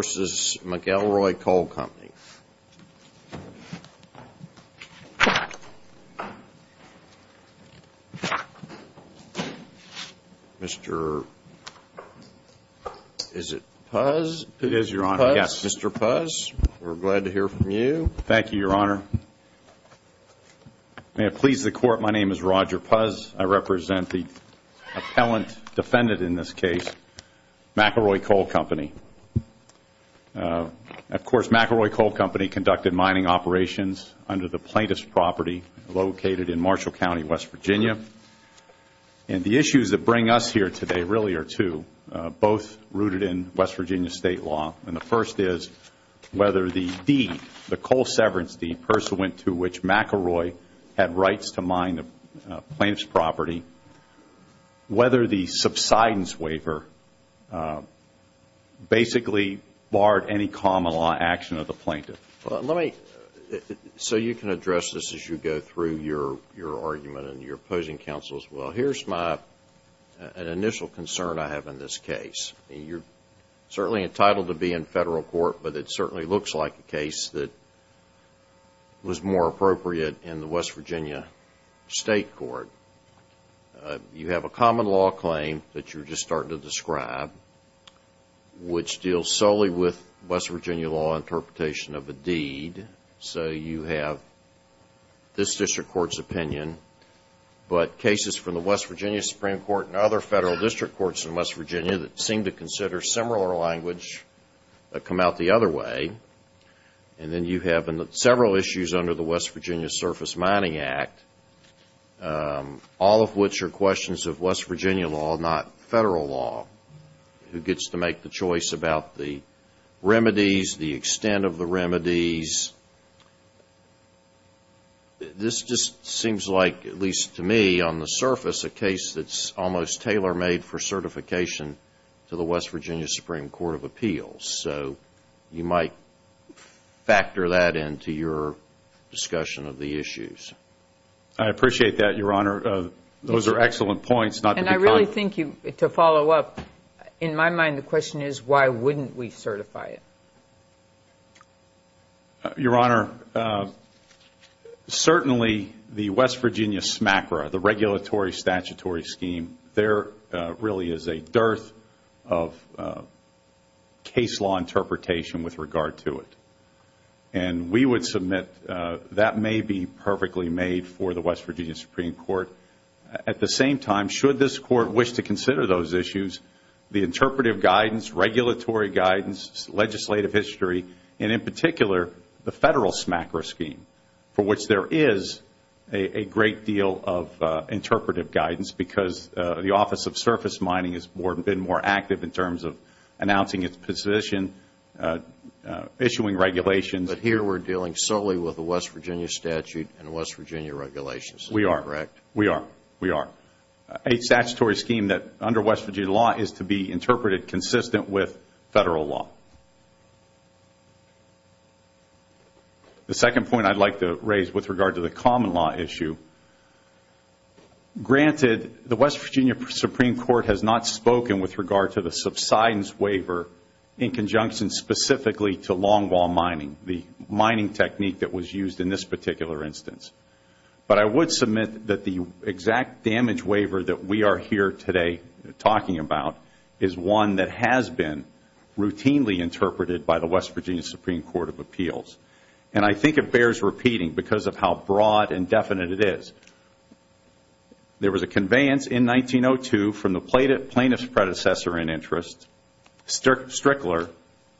v. McElroy Coal Company. Mr., is it Puz? It is, Your Honor, yes. Mr. Puz, we're glad to hear from you. Thank you, Your Honor. May it please the Court, my name is Roger Puz. I represent the appellant defendant in this case, McElroy Coal Company. Of course, McElroy Coal Company conducted mining operations under the plaintiff's property located in Marshall County, West Virginia. And the issues that bring us here today really are two, both rooted in West Virginia state law. And the first is whether the deed, the coal severance deed, pursuant to which McElroy had rights to mine the plaintiff's property, whether the subsidence waiver basically barred any common law action of the plaintiff. So you can address this as you go through your argument and your opposing counsel as well. Here's my initial concern I have in this case. You're certainly entitled to be in federal court, but it certainly looks like a case that was more appropriate in the West Virginia state court. You have a common law claim that you're just starting to describe, which deals solely with West Virginia law interpretation of a deed. So you have this district court's opinion, but cases from the West Virginia Supreme Court and other federal district courts in West Virginia that seem to consider similar language come out the other way. And then you have several issues under the West Virginia Surface Mining Act, all of which are questions of West Virginia law, not federal law. Who gets to make the choice about the remedies, the extent of the remedies? This just seems like, at least to me, on the surface, a case that's almost tailor-made for certification to the West Virginia Supreme Court of Appeals. So you might factor that into your discussion of the issues. I appreciate that, Your Honor. Those are excellent points. And I really think, to follow up, in my mind the question is why wouldn't we certify it? Your Honor, certainly the West Virginia SMACRA, the Regulatory Statutory Scheme, they're what really is a dearth of case law interpretation with regard to it. And we would submit that may be perfectly made for the West Virginia Supreme Court. At the same time, should this Court wish to consider those issues, the interpretive guidance, regulatory guidance, legislative history, and in particular the federal SMACRA scheme, for which there is a great deal of interpretive guidance because the Office of Surface Mining has been more active in terms of announcing its position, issuing regulations. But here we're dealing solely with the West Virginia statute and West Virginia regulations. We are. We are. We are. A statutory scheme that under West Virginia law is to be interpreted consistent with federal law. The second point I'd like to raise with regard to the common law issue, granted the West Virginia Supreme Court has not spoken with regard to the subsidence waiver in conjunction specifically to long wall mining, the mining technique that was used in this particular instance. But I would submit that the exact damage waiver that we are here today talking about is one that has been routinely interpreted by the West Virginia Supreme Court of Appeals. And I think it bears repeating because of how broad and definite it is. There was a conveyance in 1902 from the plaintiff's predecessor in interest, Strickler,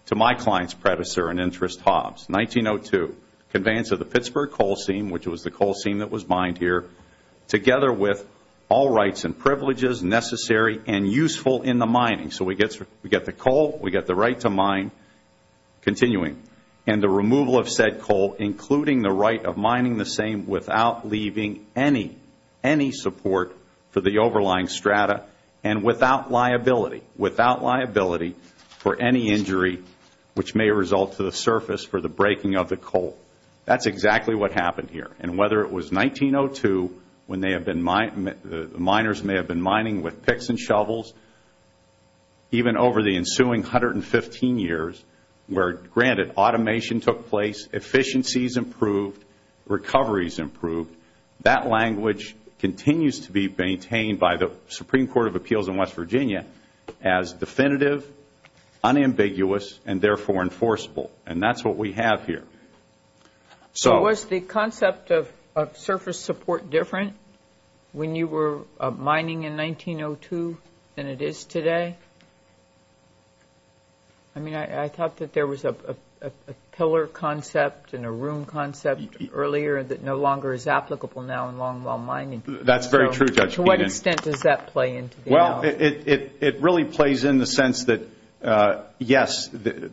to my client's predecessor in interest, Hobbs. 1902, conveyance of the Pittsburgh coal seam, which was the coal seam that was mined here, together with all rights and privileges necessary and useful in the mining. So we get the coal, we get the right to mine, continuing. And the removal of said coal, including the right of mining the same without leaving any support for the overlying strata and without liability for any injury which may result to the surface for the breaking of the coal. That's exactly what happened here. And whether it was 1902 when the miners may have been mining with picks and shovels, even over the ensuing 115 years where, granted, automation took place, efficiencies improved, recoveries improved, that language continues to be maintained by the Supreme Court of Appeals in West Virginia as definitive, unambiguous, and therefore enforceable. And that's what we have here. So was the concept of surface support different when you were mining in 1902 than it is today? I mean, I thought that there was a pillar concept and a room concept earlier that no longer is applicable now in longwall mining. That's very true, Judge Keenan. Well, it really plays in the sense that, yes,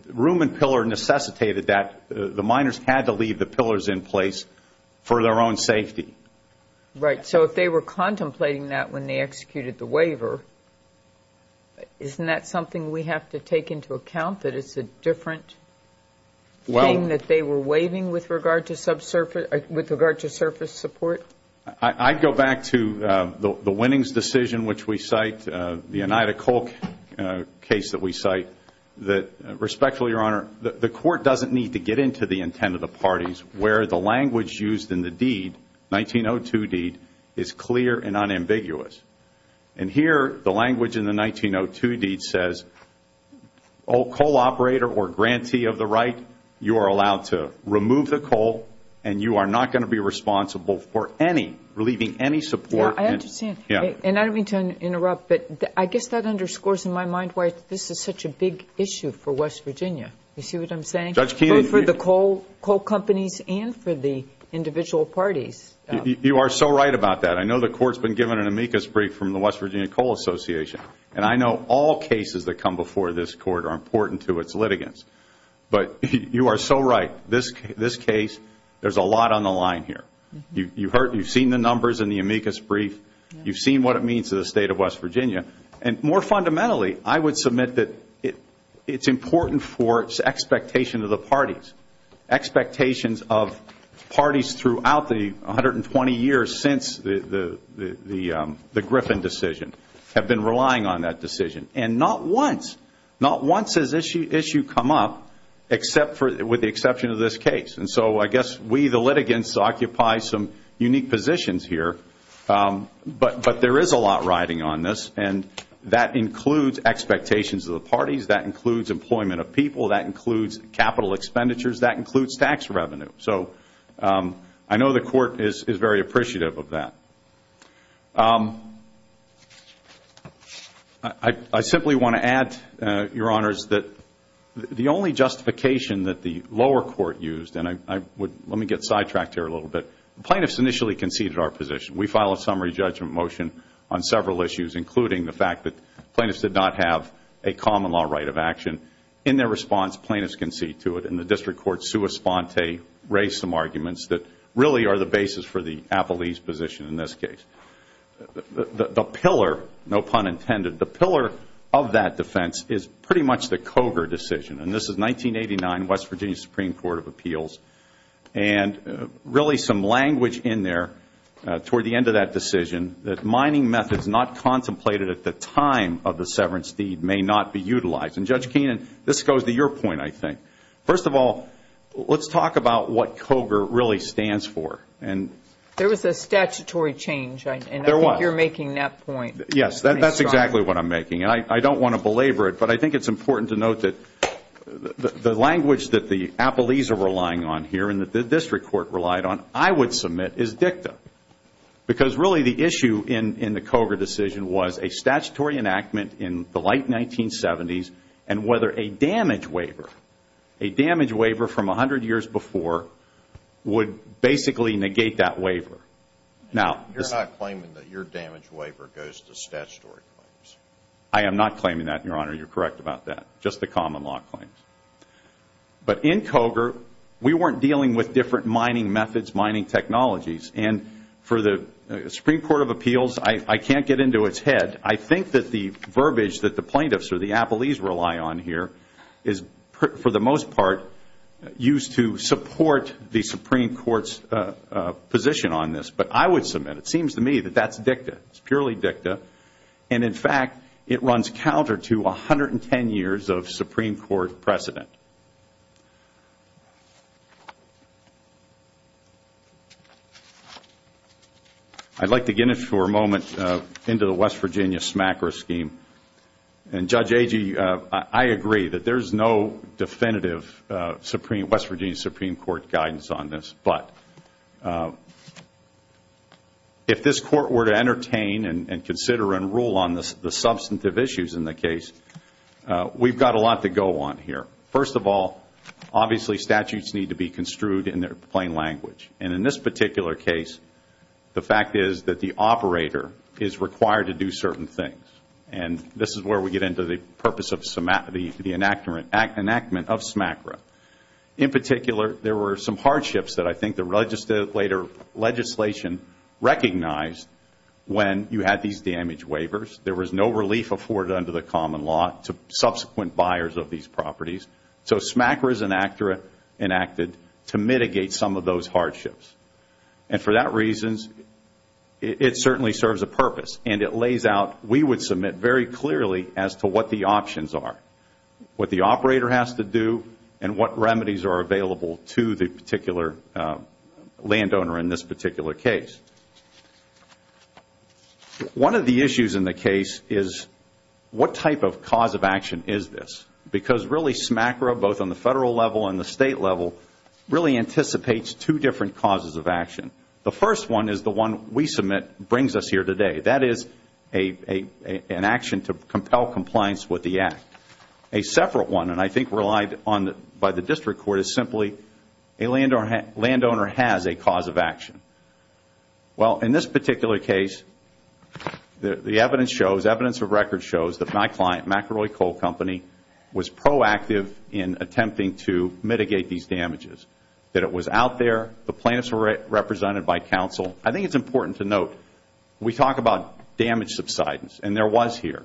room and pillar necessitated that. The miners had to leave the pillars in place for their own safety. Right. So if they were contemplating that when they executed the waiver, isn't that something we have to take into account, that it's a different thing that they were waiving with regard to surface support? I'd go back to the winnings decision, which we cite, the Oneida Coal case that we cite, that respectfully, Your Honor, the court doesn't need to get into the intent of the parties where the language used in the deed, 1902 deed, is clear and unambiguous. And here, the language in the 1902 deed says, oh, coal operator or grantee of the right, you are allowed to remove the coal, and you are not going to be responsible for any, relieving any support. I understand. And I don't mean to interrupt, but I guess that underscores in my mind why this is such a big issue for West Virginia, you see what I'm saying? Judge Keenan. Both for the coal companies and for the individual parties. You are so right about that. I know the court's been given an amicus brief from the West Virginia Coal Association. And I know all cases that come before this court are important to its litigants. But you are so right. This case, there's a lot on the line here. You've seen the numbers in the amicus brief. You've seen what it means to the state of West Virginia. And more fundamentally, I would submit that it's important for its expectation of the parties. Expectations of parties throughout the 120 years since the Griffin decision have been relying on that decision. And not once, not once has issue come up with the exception of this case. And so I guess we, the litigants, occupy some unique positions here. But there is a lot riding on this. And that includes expectations of the parties. That includes employment of people. That includes capital expenditures. That includes tax revenue. So I know the court is very appreciative of that. I simply want to add, Your Honors, that the only justification that the lower court used, and let me get sidetracked here a little bit. Plaintiffs initially conceded our position. We filed a summary judgment motion on several issues, including the fact that plaintiffs did not have a common law right of action. In their response, plaintiffs conceded to it. And the district court, sua sponte, raised some arguments that really are the basis for the Appellee's position in this case. The pillar, no pun intended, the pillar of that defense is pretty much the Cogar decision. And this is 1989, West Virginia Supreme Court of Appeals. And really some language in there toward the end of that decision that mining methods not contemplated at the time of the severance deed may not be utilized. And Judge Keenan, this goes to your point, I think. First of all, let's talk about what Cogar really stands for. There was a statutory change, and I think you're making that point. Yes, that's exactly what I'm making. And I don't want to belabor it, but I think it's important to note that the language that the Appellees are relying on here, and that the district court relied on, I would submit is dicta. Because really the issue in the Cogar decision was a statutory enactment in the late 1970s, and whether a damage waiver, a damage waiver from 100 years before, would basically negate that waiver. Now, you're not claiming that your damage waiver goes to statutory claims? I am not claiming that, Your Honor. You're correct about that. Just the common law claims. But in Cogar, we weren't dealing with different mining methods, mining technologies. And for the Supreme Court of Appeals, I can't get into its head. I think that the verbiage that the plaintiffs or the Appellees rely on here is, for the most part, used to support the Supreme Court's position on this. But I would submit, it seems to me, that that's dicta. It's purely dicta. And in fact, it runs counter to 110 years of Supreme Court precedent. I'd like to get in for a moment into the West Virginia SMACRA scheme. And Judge Agee, I agree that there's no definitive West Virginia Supreme Court guidance on this. But if this Court were to entertain and consider and rule on the substantive issues in the case, we've got a lot to go on here. First of all, obviously, statutes need to be construed in their plain language. And in this particular case, the fact is that the operator is required to do certain things. And this is where we get into the purpose of the enactment of SMACRA. In particular, there were some hardships that I think the legislation recognized when you had these damage waivers. There was no relief afforded under the common law to subsequent buyers of these properties. So SMACRA is enacted to mitigate some of those hardships. And for that reason, it certainly serves a purpose. And it lays out, we would submit very clearly as to what the options are, what the operator has to do, and what remedies are available to the particular landowner in this particular case. One of the issues in the case is, what type of cause of action is this? Because really, SMACRA, both on the federal level and the state level, really anticipates two different causes of action. The first one is the one we submit brings us here today. That is an action to compel compliance with the Act. A separate one, and I think relied on by the district court, is simply a landowner has a cause of action. Well, in this particular case, the evidence shows, evidence of record shows that my client, McElroy Coal Company, was proactive in attempting to mitigate these damages. That it was out there, the plaintiffs were represented by counsel. I think it's important to note, we talk about damage subsidence, and there was here.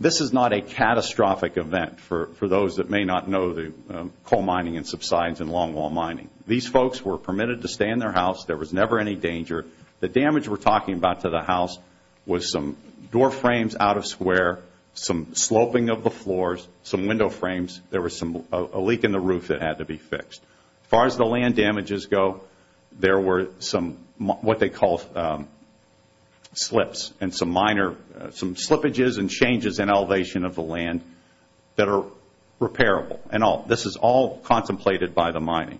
This is not a catastrophic event for those that may not know the coal mining and subsidence and longwall mining. These folks were permitted to stay in their house. There was never any danger. The damage we're talking about to the house was some door frames out of square, some sloping of the floors, some window frames. There was a leak in the roof that had to be fixed. As far as the land damages go, there were some what they call slips and some minor, some slippages and changes in elevation of the land that are repairable. And this is all contemplated by the mining.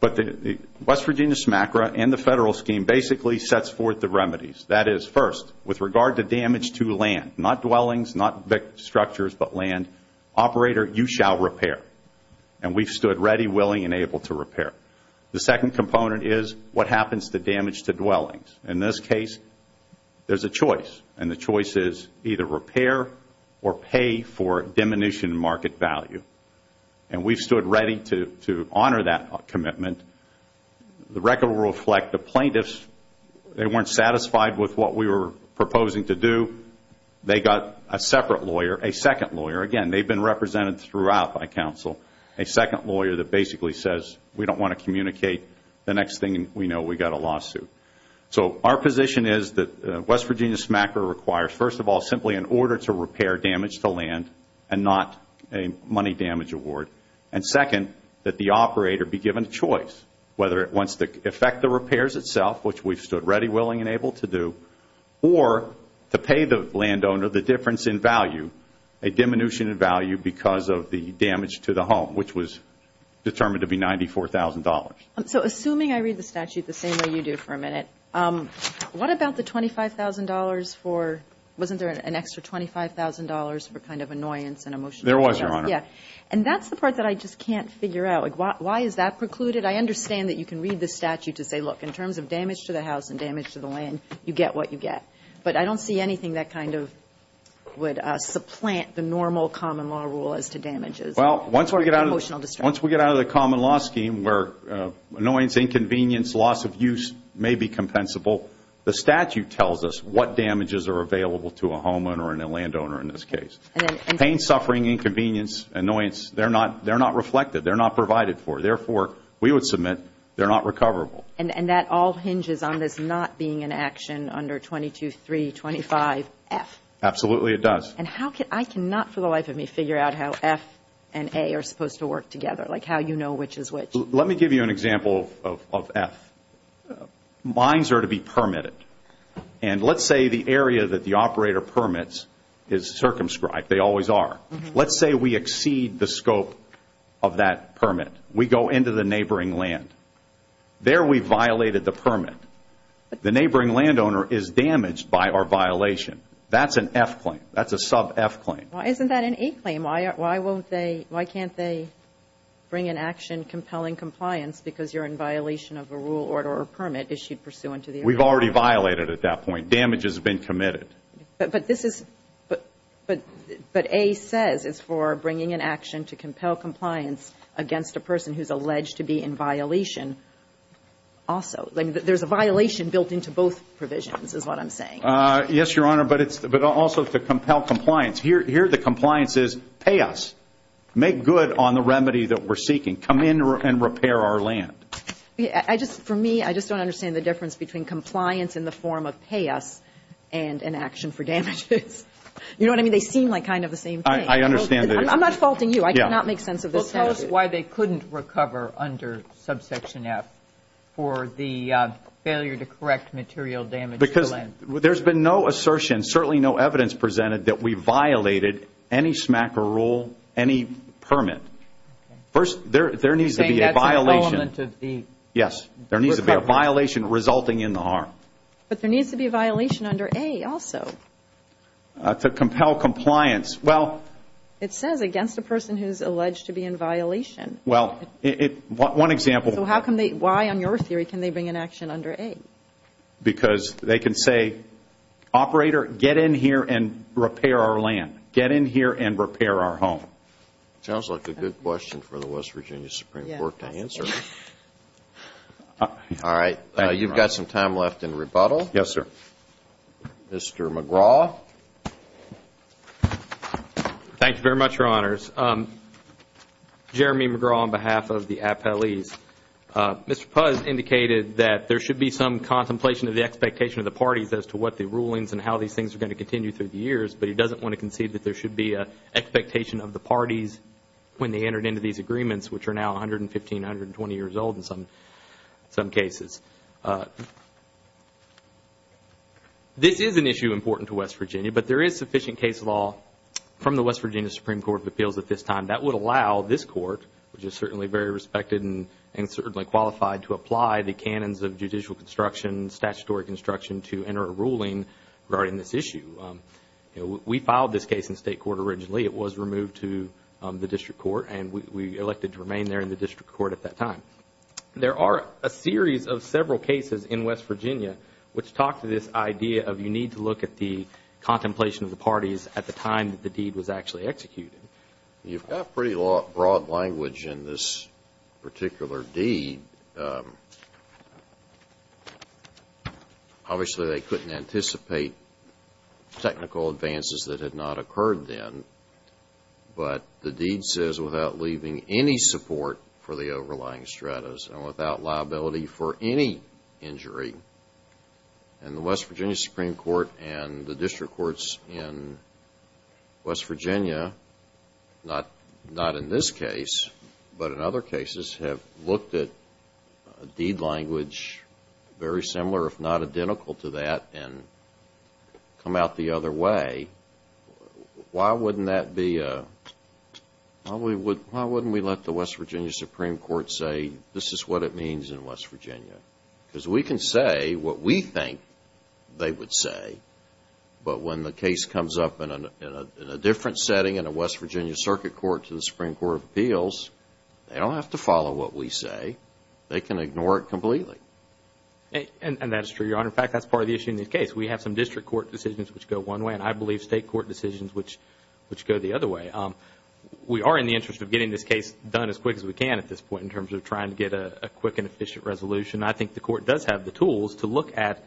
But the West Virginia SMACRA and the federal scheme basically sets forth the remedies. That is, first, with regard to damage to land, not dwellings, not structures, but land, operator, you shall repair. And we've stood ready, willing, and able to repair. The second component is what happens to damage to dwellings. In this case, there's a choice. And the choice is either repair or pay for diminution in market value. And we've stood ready to honor that commitment. The record will reflect the plaintiffs. They weren't satisfied with what we were proposing to do. They got a separate lawyer, a second lawyer. Again, they've been represented throughout by counsel. A second lawyer that basically says we don't want to communicate the next thing we know we've got a lawsuit. So our position is that West Virginia SMACRA requires, first of all, simply an order to repair damage to land and not a money damage award. And second, that the operator be given a choice, whether it wants to effect the repairs itself, which we've stood ready, willing, and able to do, or to pay the landowner the difference in value, a diminution in value because of the damage to the home, which was determined to be $94,000. So assuming I read the statute the same way you do for a minute, what about the $25,000 for, wasn't there an extra $25,000 for kind of annoyance and emotion? There was, Your Honor. Yeah. And that's the part that I just can't figure out. Why is that precluded? I understand that you can read the statute to say, look, in terms of damage to the house and damage to the land, you get what you get. But I don't see anything that kind of would supplant the normal common law rule as to damages. Well, once we get out of the common law scheme where annoyance, inconvenience, loss of use may be compensable, the statute tells us what damages are available to a homeowner and a landowner in this case. Pain, suffering, inconvenience, annoyance, they're not reflected. They're not provided for. Therefore, we would submit they're not recoverable. And that all hinges on this not being an action under 22-325-F. Absolutely, it does. And how can, I cannot for the life of me figure out how F and A are supposed to work together, like how you know which is which. Let me give you an example of F. Mines are to be permitted. And let's say the area that the operator permits is circumscribed. They always are. Let's say we exceed the scope of that permit. We go into the neighboring land. There we violated the permit. The neighboring landowner is damaged by our violation. That's an F claim. That's a sub-F claim. Why isn't that an A claim? Why can't they bring an action compelling compliance because you're in violation of a rule, order, or permit issued pursuant to the agreement? We've already violated at that point. Damage has been committed. But A says it's for bringing an action to compel compliance against a person who's to be in violation also. There's a violation built into both provisions is what I'm saying. Yes, Your Honor. But it's also to compel compliance. Here the compliance is pay us. Make good on the remedy that we're seeking. Come in and repair our land. For me, I just don't understand the difference between compliance in the form of pay us and an action for damages. You know what I mean? They seem like kind of the same thing. I understand that. I'm not faulting you. I do not make sense of this statute. Why they couldn't recover under subsection F for the failure to correct material damage? Because there's been no assertion, certainly no evidence presented that we violated any SMACA rule, any permit. First, there needs to be a violation. Yes, there needs to be a violation resulting in the harm. But there needs to be a violation under A also. To compel compliance. It says against a person who's alleged to be in violation. One example. So how come they, why on your theory can they bring an action under A? Because they can say, operator, get in here and repair our land. Get in here and repair our home. Sounds like a good question for the West Virginia Supreme Court to answer. All right. You've got some time left in rebuttal. Yes, sir. Mr. McGraw. Thank you very much, Your Honors. Jeremy McGraw on behalf of the appellees. Mr. Puz indicated that there should be some contemplation of the expectation of the parties as to what the rulings and how these things are going to continue through the years. But he doesn't want to concede that there should be an expectation of the parties when they entered into these agreements, which are now 115, 120 years old in some cases. This is an issue important to West Virginia. But there is sufficient case law from the West Virginia Supreme Court of Appeals at this time that would allow this court, which is certainly very respected and certainly qualified to apply the canons of judicial construction, statutory construction to enter a ruling regarding this issue. We filed this case in state court originally. It was removed to the district court. And we elected to remain there in the district court at that time. There are a series of several cases in West Virginia which talk to this idea of you need to look at the contemplation of the parties at the time that the deed was actually executed. You've got pretty broad language in this particular deed. Obviously, they couldn't anticipate technical advances that had not occurred then. But the deed says without leaving any support for the overlying stratus and without liability for any injury. And the West Virginia Supreme Court and the district courts in West Virginia, not in this case, but in other cases, have looked at a deed language very similar, if not identical to that, and come out the other way. Why wouldn't that be a, why wouldn't we let the West Virginia Supreme Court say this is what it means in West Virginia? Because we can say what we think they would say, but when the case comes up in a different setting in a West Virginia circuit court to the Supreme Court of Appeals, they don't have to follow what we say. They can ignore it completely. And that's true, Your Honor. In fact, that's part of the issue in this case. We have some district court decisions which go one way, and I believe state court decisions which go the other way. We are in the interest of getting this case done as quick as we can at this point in terms of trying to get a quick and efficient resolution. I think the court does have the tools to look at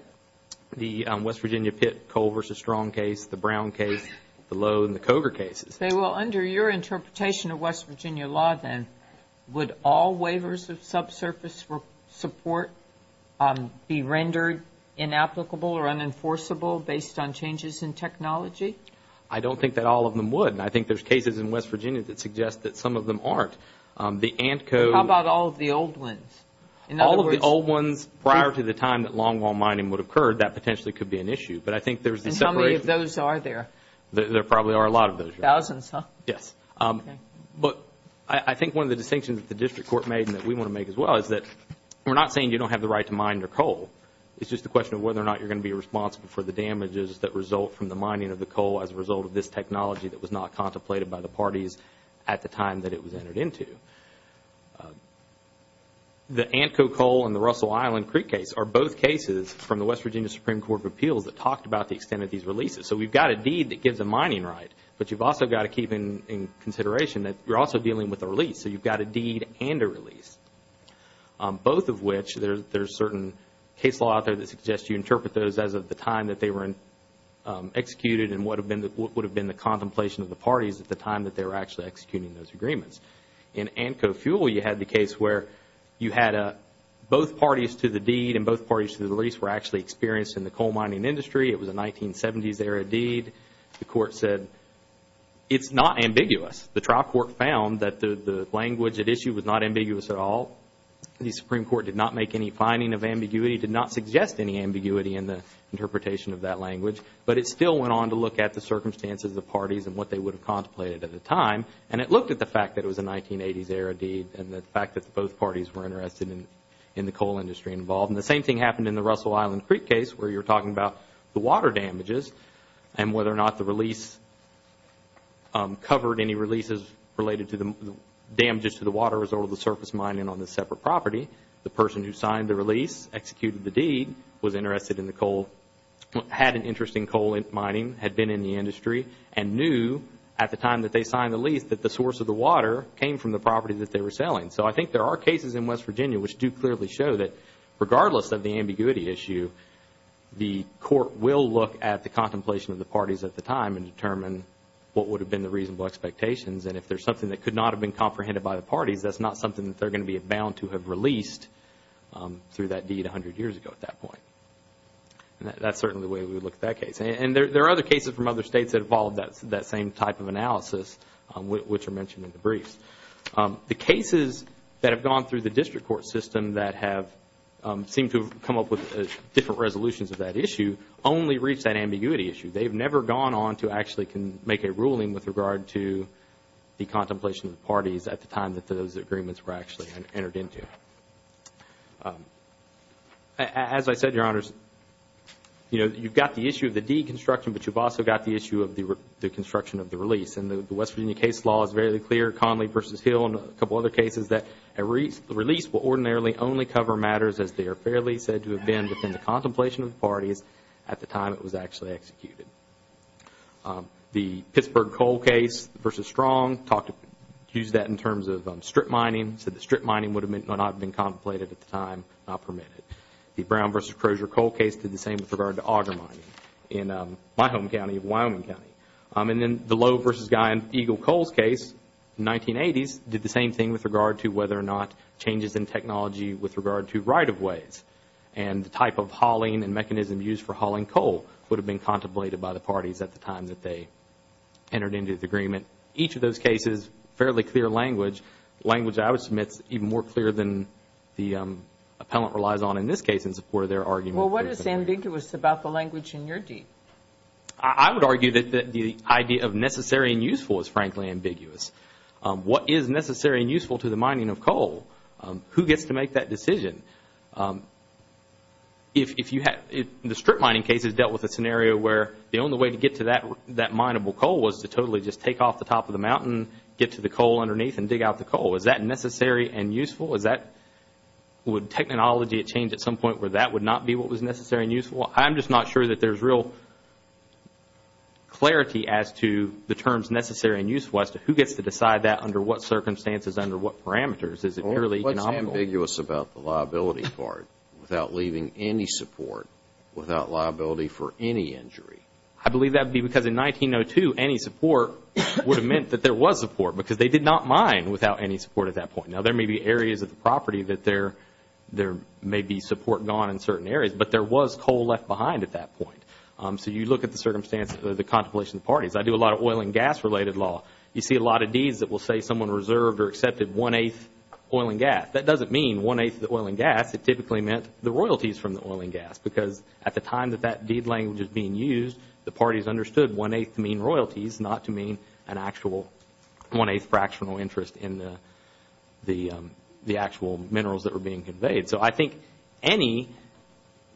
the West Virginia Pitt-Cole v. Strong case, the Brown case, the Lowe and the Coger cases. Say, well, under your interpretation of West Virginia law, then, would all waivers of subsurface support be rendered inapplicable or unenforceable based on changes in technology? I don't think that all of them would. And I think there's cases in West Virginia that suggest that some of them aren't. The Ant Code. How about all of the old ones? In other words... All of the old ones prior to the time that longwall mining would occur, that potentially could be an issue. But I think there's the separation... And how many of those are there? There probably are a lot of those. Thousands, huh? Yes. But I think one of the distinctions that the district court made and that we want to make as well is that we're not saying you don't have the right to mine your coal. It's just a question of whether or not you're going to be responsible for the damages that result from the mining of the coal as a result of this technology that was not contemplated by the parties at the time that it was entered into. The Antco Coal and the Russell Island Creek case are both cases from the West Virginia Supreme Court of Appeals that talked about the extent of these releases. So we've got a deed that gives a mining right, but you've also got to keep in consideration that you're also dealing with a release. So you've got a deed and a release, both of which there's certain case law out there that suggests you interpret those as of the time that they were executed and what would have been the contemplation of the parties at the time that they were actually executing those agreements. In Antco Fuel, you had the case where you had both parties to the deed and both parties to the release were actually experienced in the coal mining industry. It was a 1970s era deed. The court said it's not ambiguous. The trial court found that the language at issue was not ambiguous at all. The Supreme Court did not make any finding of ambiguity, did not suggest any ambiguity in the interpretation of that language. But it still went on to look at the circumstances of the parties and what they would have contemplated at the time. And it looked at the fact that it was a 1980s era deed and the fact that both parties were interested in the coal industry involved. And the same thing happened in the Russell Island Creek case where you're talking about the water damages and whether or not the release covered any releases related to the damages to the water as a result of the surface mining on the separate property. The person who signed the release, executed the deed, was interested in the coal, had an interest in coal mining, had been in the industry and knew at the time that they signed the lease that the source of the water came from the property that they were selling. So I think there are cases in West Virginia which do clearly show that regardless of the ambiguity issue, the court will look at the contemplation of the parties at the time and determine what would have been the reasonable expectations. And if there's something that could not have been comprehended by the parties, that's not something that they're going to be bound to have released through that deed a hundred years ago at that point. That's certainly the way we would look at that case. And there are other cases from other states that involve that same type of analysis which are mentioned in the briefs. The cases that have gone through the district court system that have seemed to have come up with different resolutions of that issue only reach that ambiguity issue. They've never gone on to actually make a ruling with regard to the contemplation of the parties at the time that those agreements were actually entered into. As I said, Your Honors, you've got the issue of the deed construction, but you've also got the issue of the construction of the release. And the West Virginia case law is very clear, Conley v. Hill and a couple of other cases that a release will ordinarily only cover matters as they are fairly said to have been within the contemplation of the parties at the time it was actually executed. The Pittsburgh coal case v. Strong used that in terms of strip mining, said the strip mining would not have been contemplated at the time, not permitted. The Brown v. Crozer coal case did the same with regard to auger mining in my home county of Wyoming County. And then the Lowe v. Guy and Eagle Coals case in the 1980s did the same thing with regard to whether or not changes in technology with regard to right-of-ways and the type of hauling and mechanism used for hauling coal would have been contemplated by the parties at the time that they entered into the agreement. Each of those cases, fairly clear language, language I would submit is even more clear than the appellant relies on in this case in support of their argument. Well, what is ambiguous about the language in your deed? I would argue that the idea of necessary and useful is frankly ambiguous. What is necessary and useful to the mining of coal? Who gets to make that decision? The strip mining cases dealt with a scenario where the only way to get to that mineable coal was to totally just take off the top of the mountain, get to the coal underneath and dig out the coal. Is that necessary and useful? Would technology change at some point where that would not be what was necessary and useful? I'm just not sure that there's real clarity as to the terms necessary and useful as to who gets to decide that under what circumstances, under what parameters. Is it purely economical? What's ambiguous about the liability part without leaving any support, without liability for any injury? I believe that would be because in 1902, any support would have meant that there was support because they did not mine without any support at that point. Now, there may be areas of the property that there may be support gone in certain areas, but there was coal left behind at that point. So, you look at the circumstances, the contemplation of parties. I do a lot of oil and gas related law. You see a lot of deeds that will say someone reserved or accepted one-eighth oil and gas. That doesn't mean one-eighth of the oil and gas. It typically meant the royalties from the oil and gas because at the time that that was being used, the parties understood one-eighth mean royalties, not to mean an actual one-eighth fractional interest in the actual minerals that were being conveyed. So, I think any,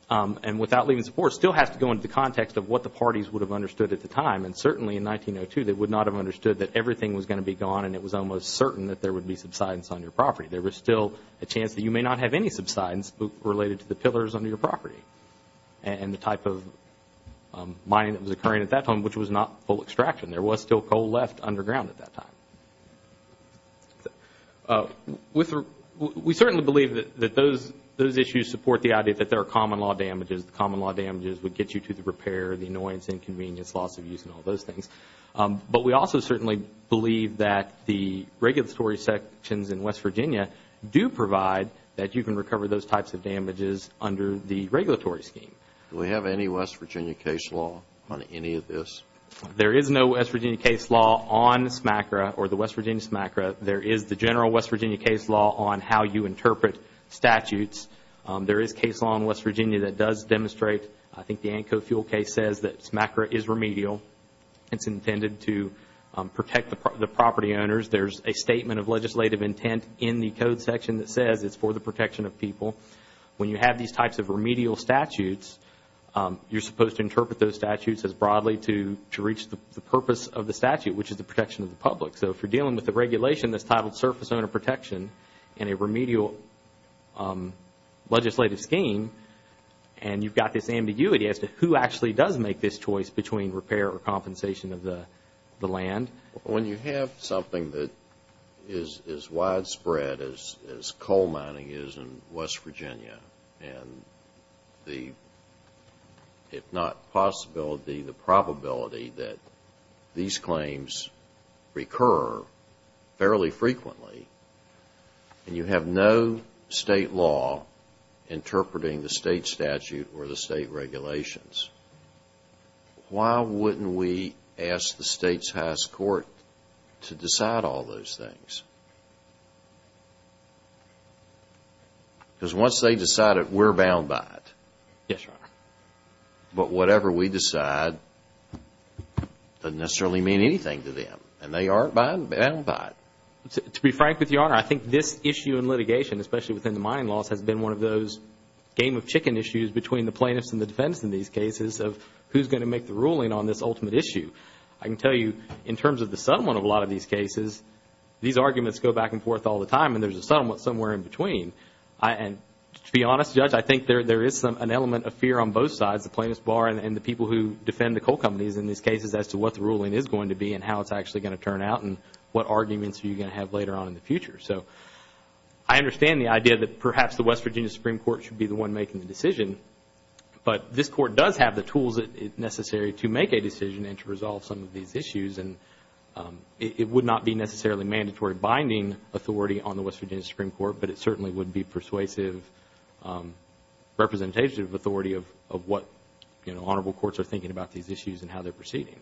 and without leaving support, still has to go into the context of what the parties would have understood at the time. And certainly in 1902, they would not have understood that everything was going to be gone and it was almost certain that there would be subsidence on your property. There was still a chance that you may not have any subsidence related to the pillars under your property and the type of mining that was occurring at that time, which was not full extraction. There was still coal left underground at that time. We certainly believe that those issues support the idea that there are common law damages. The common law damages would get you to the repair, the annoyance, inconvenience, loss of use and all those things. But we also certainly believe that the regulatory sections in West Virginia do provide that you can recover those types of damages under the regulatory scheme. Do we have any West Virginia case law on any of this? There is no West Virginia case law on SMACRA or the West Virginia SMACRA. There is the general West Virginia case law on how you interpret statutes. There is case law in West Virginia that does demonstrate, I think the ANCO fuel case says that SMACRA is remedial. It's intended to protect the property owners. There's a statement of legislative intent in the code section that says it's for the protection of people. When you have these types of remedial statutes, you're supposed to interpret those statutes as broadly to reach the purpose of the statute, which is the protection of the public. So if you're dealing with a regulation that's titled surface owner protection and a remedial legislative scheme and you've got this ambiguity as to who actually does make this choice between repair or compensation of the land. When you have something that is as widespread as coal mining is in West Virginia and the, if not possibility, the probability that these claims recur fairly frequently and you have no state law interpreting the state statute or the state regulations, why wouldn't we ask the state's highest court to decide all those things? Because once they decide it, we're bound by it. Yes, Your Honor. But whatever we decide doesn't necessarily mean anything to them and they aren't bound by it. To be frank with you, Your Honor, I think this issue in litigation, especially within the mining laws, has been one of those game of chicken issues between the plaintiffs and this ultimate issue. I can tell you in terms of the settlement of a lot of these cases, these arguments go back and forth all the time and there's a settlement somewhere in between. And to be honest, Judge, I think there is an element of fear on both sides, the plaintiff's bar and the people who defend the coal companies in these cases as to what the ruling is going to be and how it's actually going to turn out and what arguments you're going to have later on in the future. So I understand the idea that perhaps the West Virginia Supreme Court should be the one making the decision, but this Court does have the tools necessary to make a decision and to resolve some of these issues and it would not be necessarily mandatory binding authority on the West Virginia Supreme Court, but it certainly would be persuasive representation of authority of what, you know, honorable courts are thinking about these issues and how they're proceeding.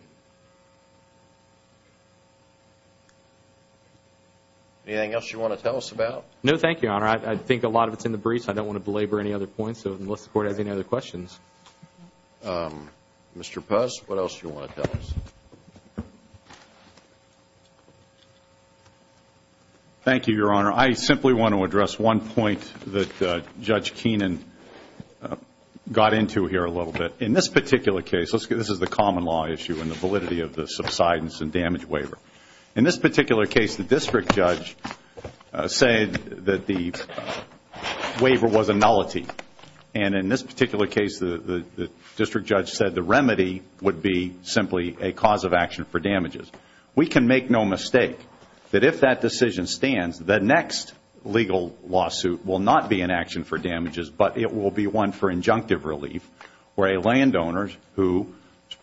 Anything else you want to tell us about? No, thank you, Your Honor. I think a lot of it's in the briefs. I don't want to belabor any other points unless the Court has any other questions. Mr. Puz, what else do you want to tell us? Thank you, Your Honor. I simply want to address one point that Judge Keenan got into here a little bit. In this particular case, this is the common law issue and the validity of the subsidence and damage waiver. In this particular case, the district judge said that the waiver was a nullity. And in this particular case, the district judge said the remedy would be simply a cause of action for damages. We can make no mistake that if that decision stands, the next legal lawsuit will not be an action for damages, but it will be one for injunctive relief where a landowner whose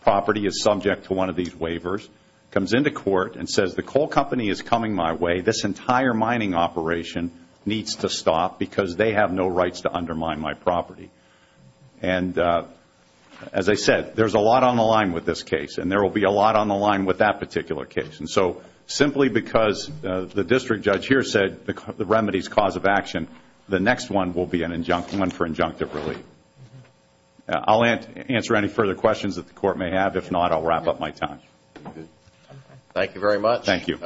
property is subject to one of these waivers comes into court and says the coal company is coming my way, this entire mining operation needs to stop because they have no rights to undermine my property. And as I said, there's a lot on the line with this case and there will be a lot on the line with that particular case. And so simply because the district judge here said the remedy is cause of action, the next one will be one for injunctive relief. I'll answer any further questions that the court may have. If not, I'll wrap up my time. Thank you very much. Thank you.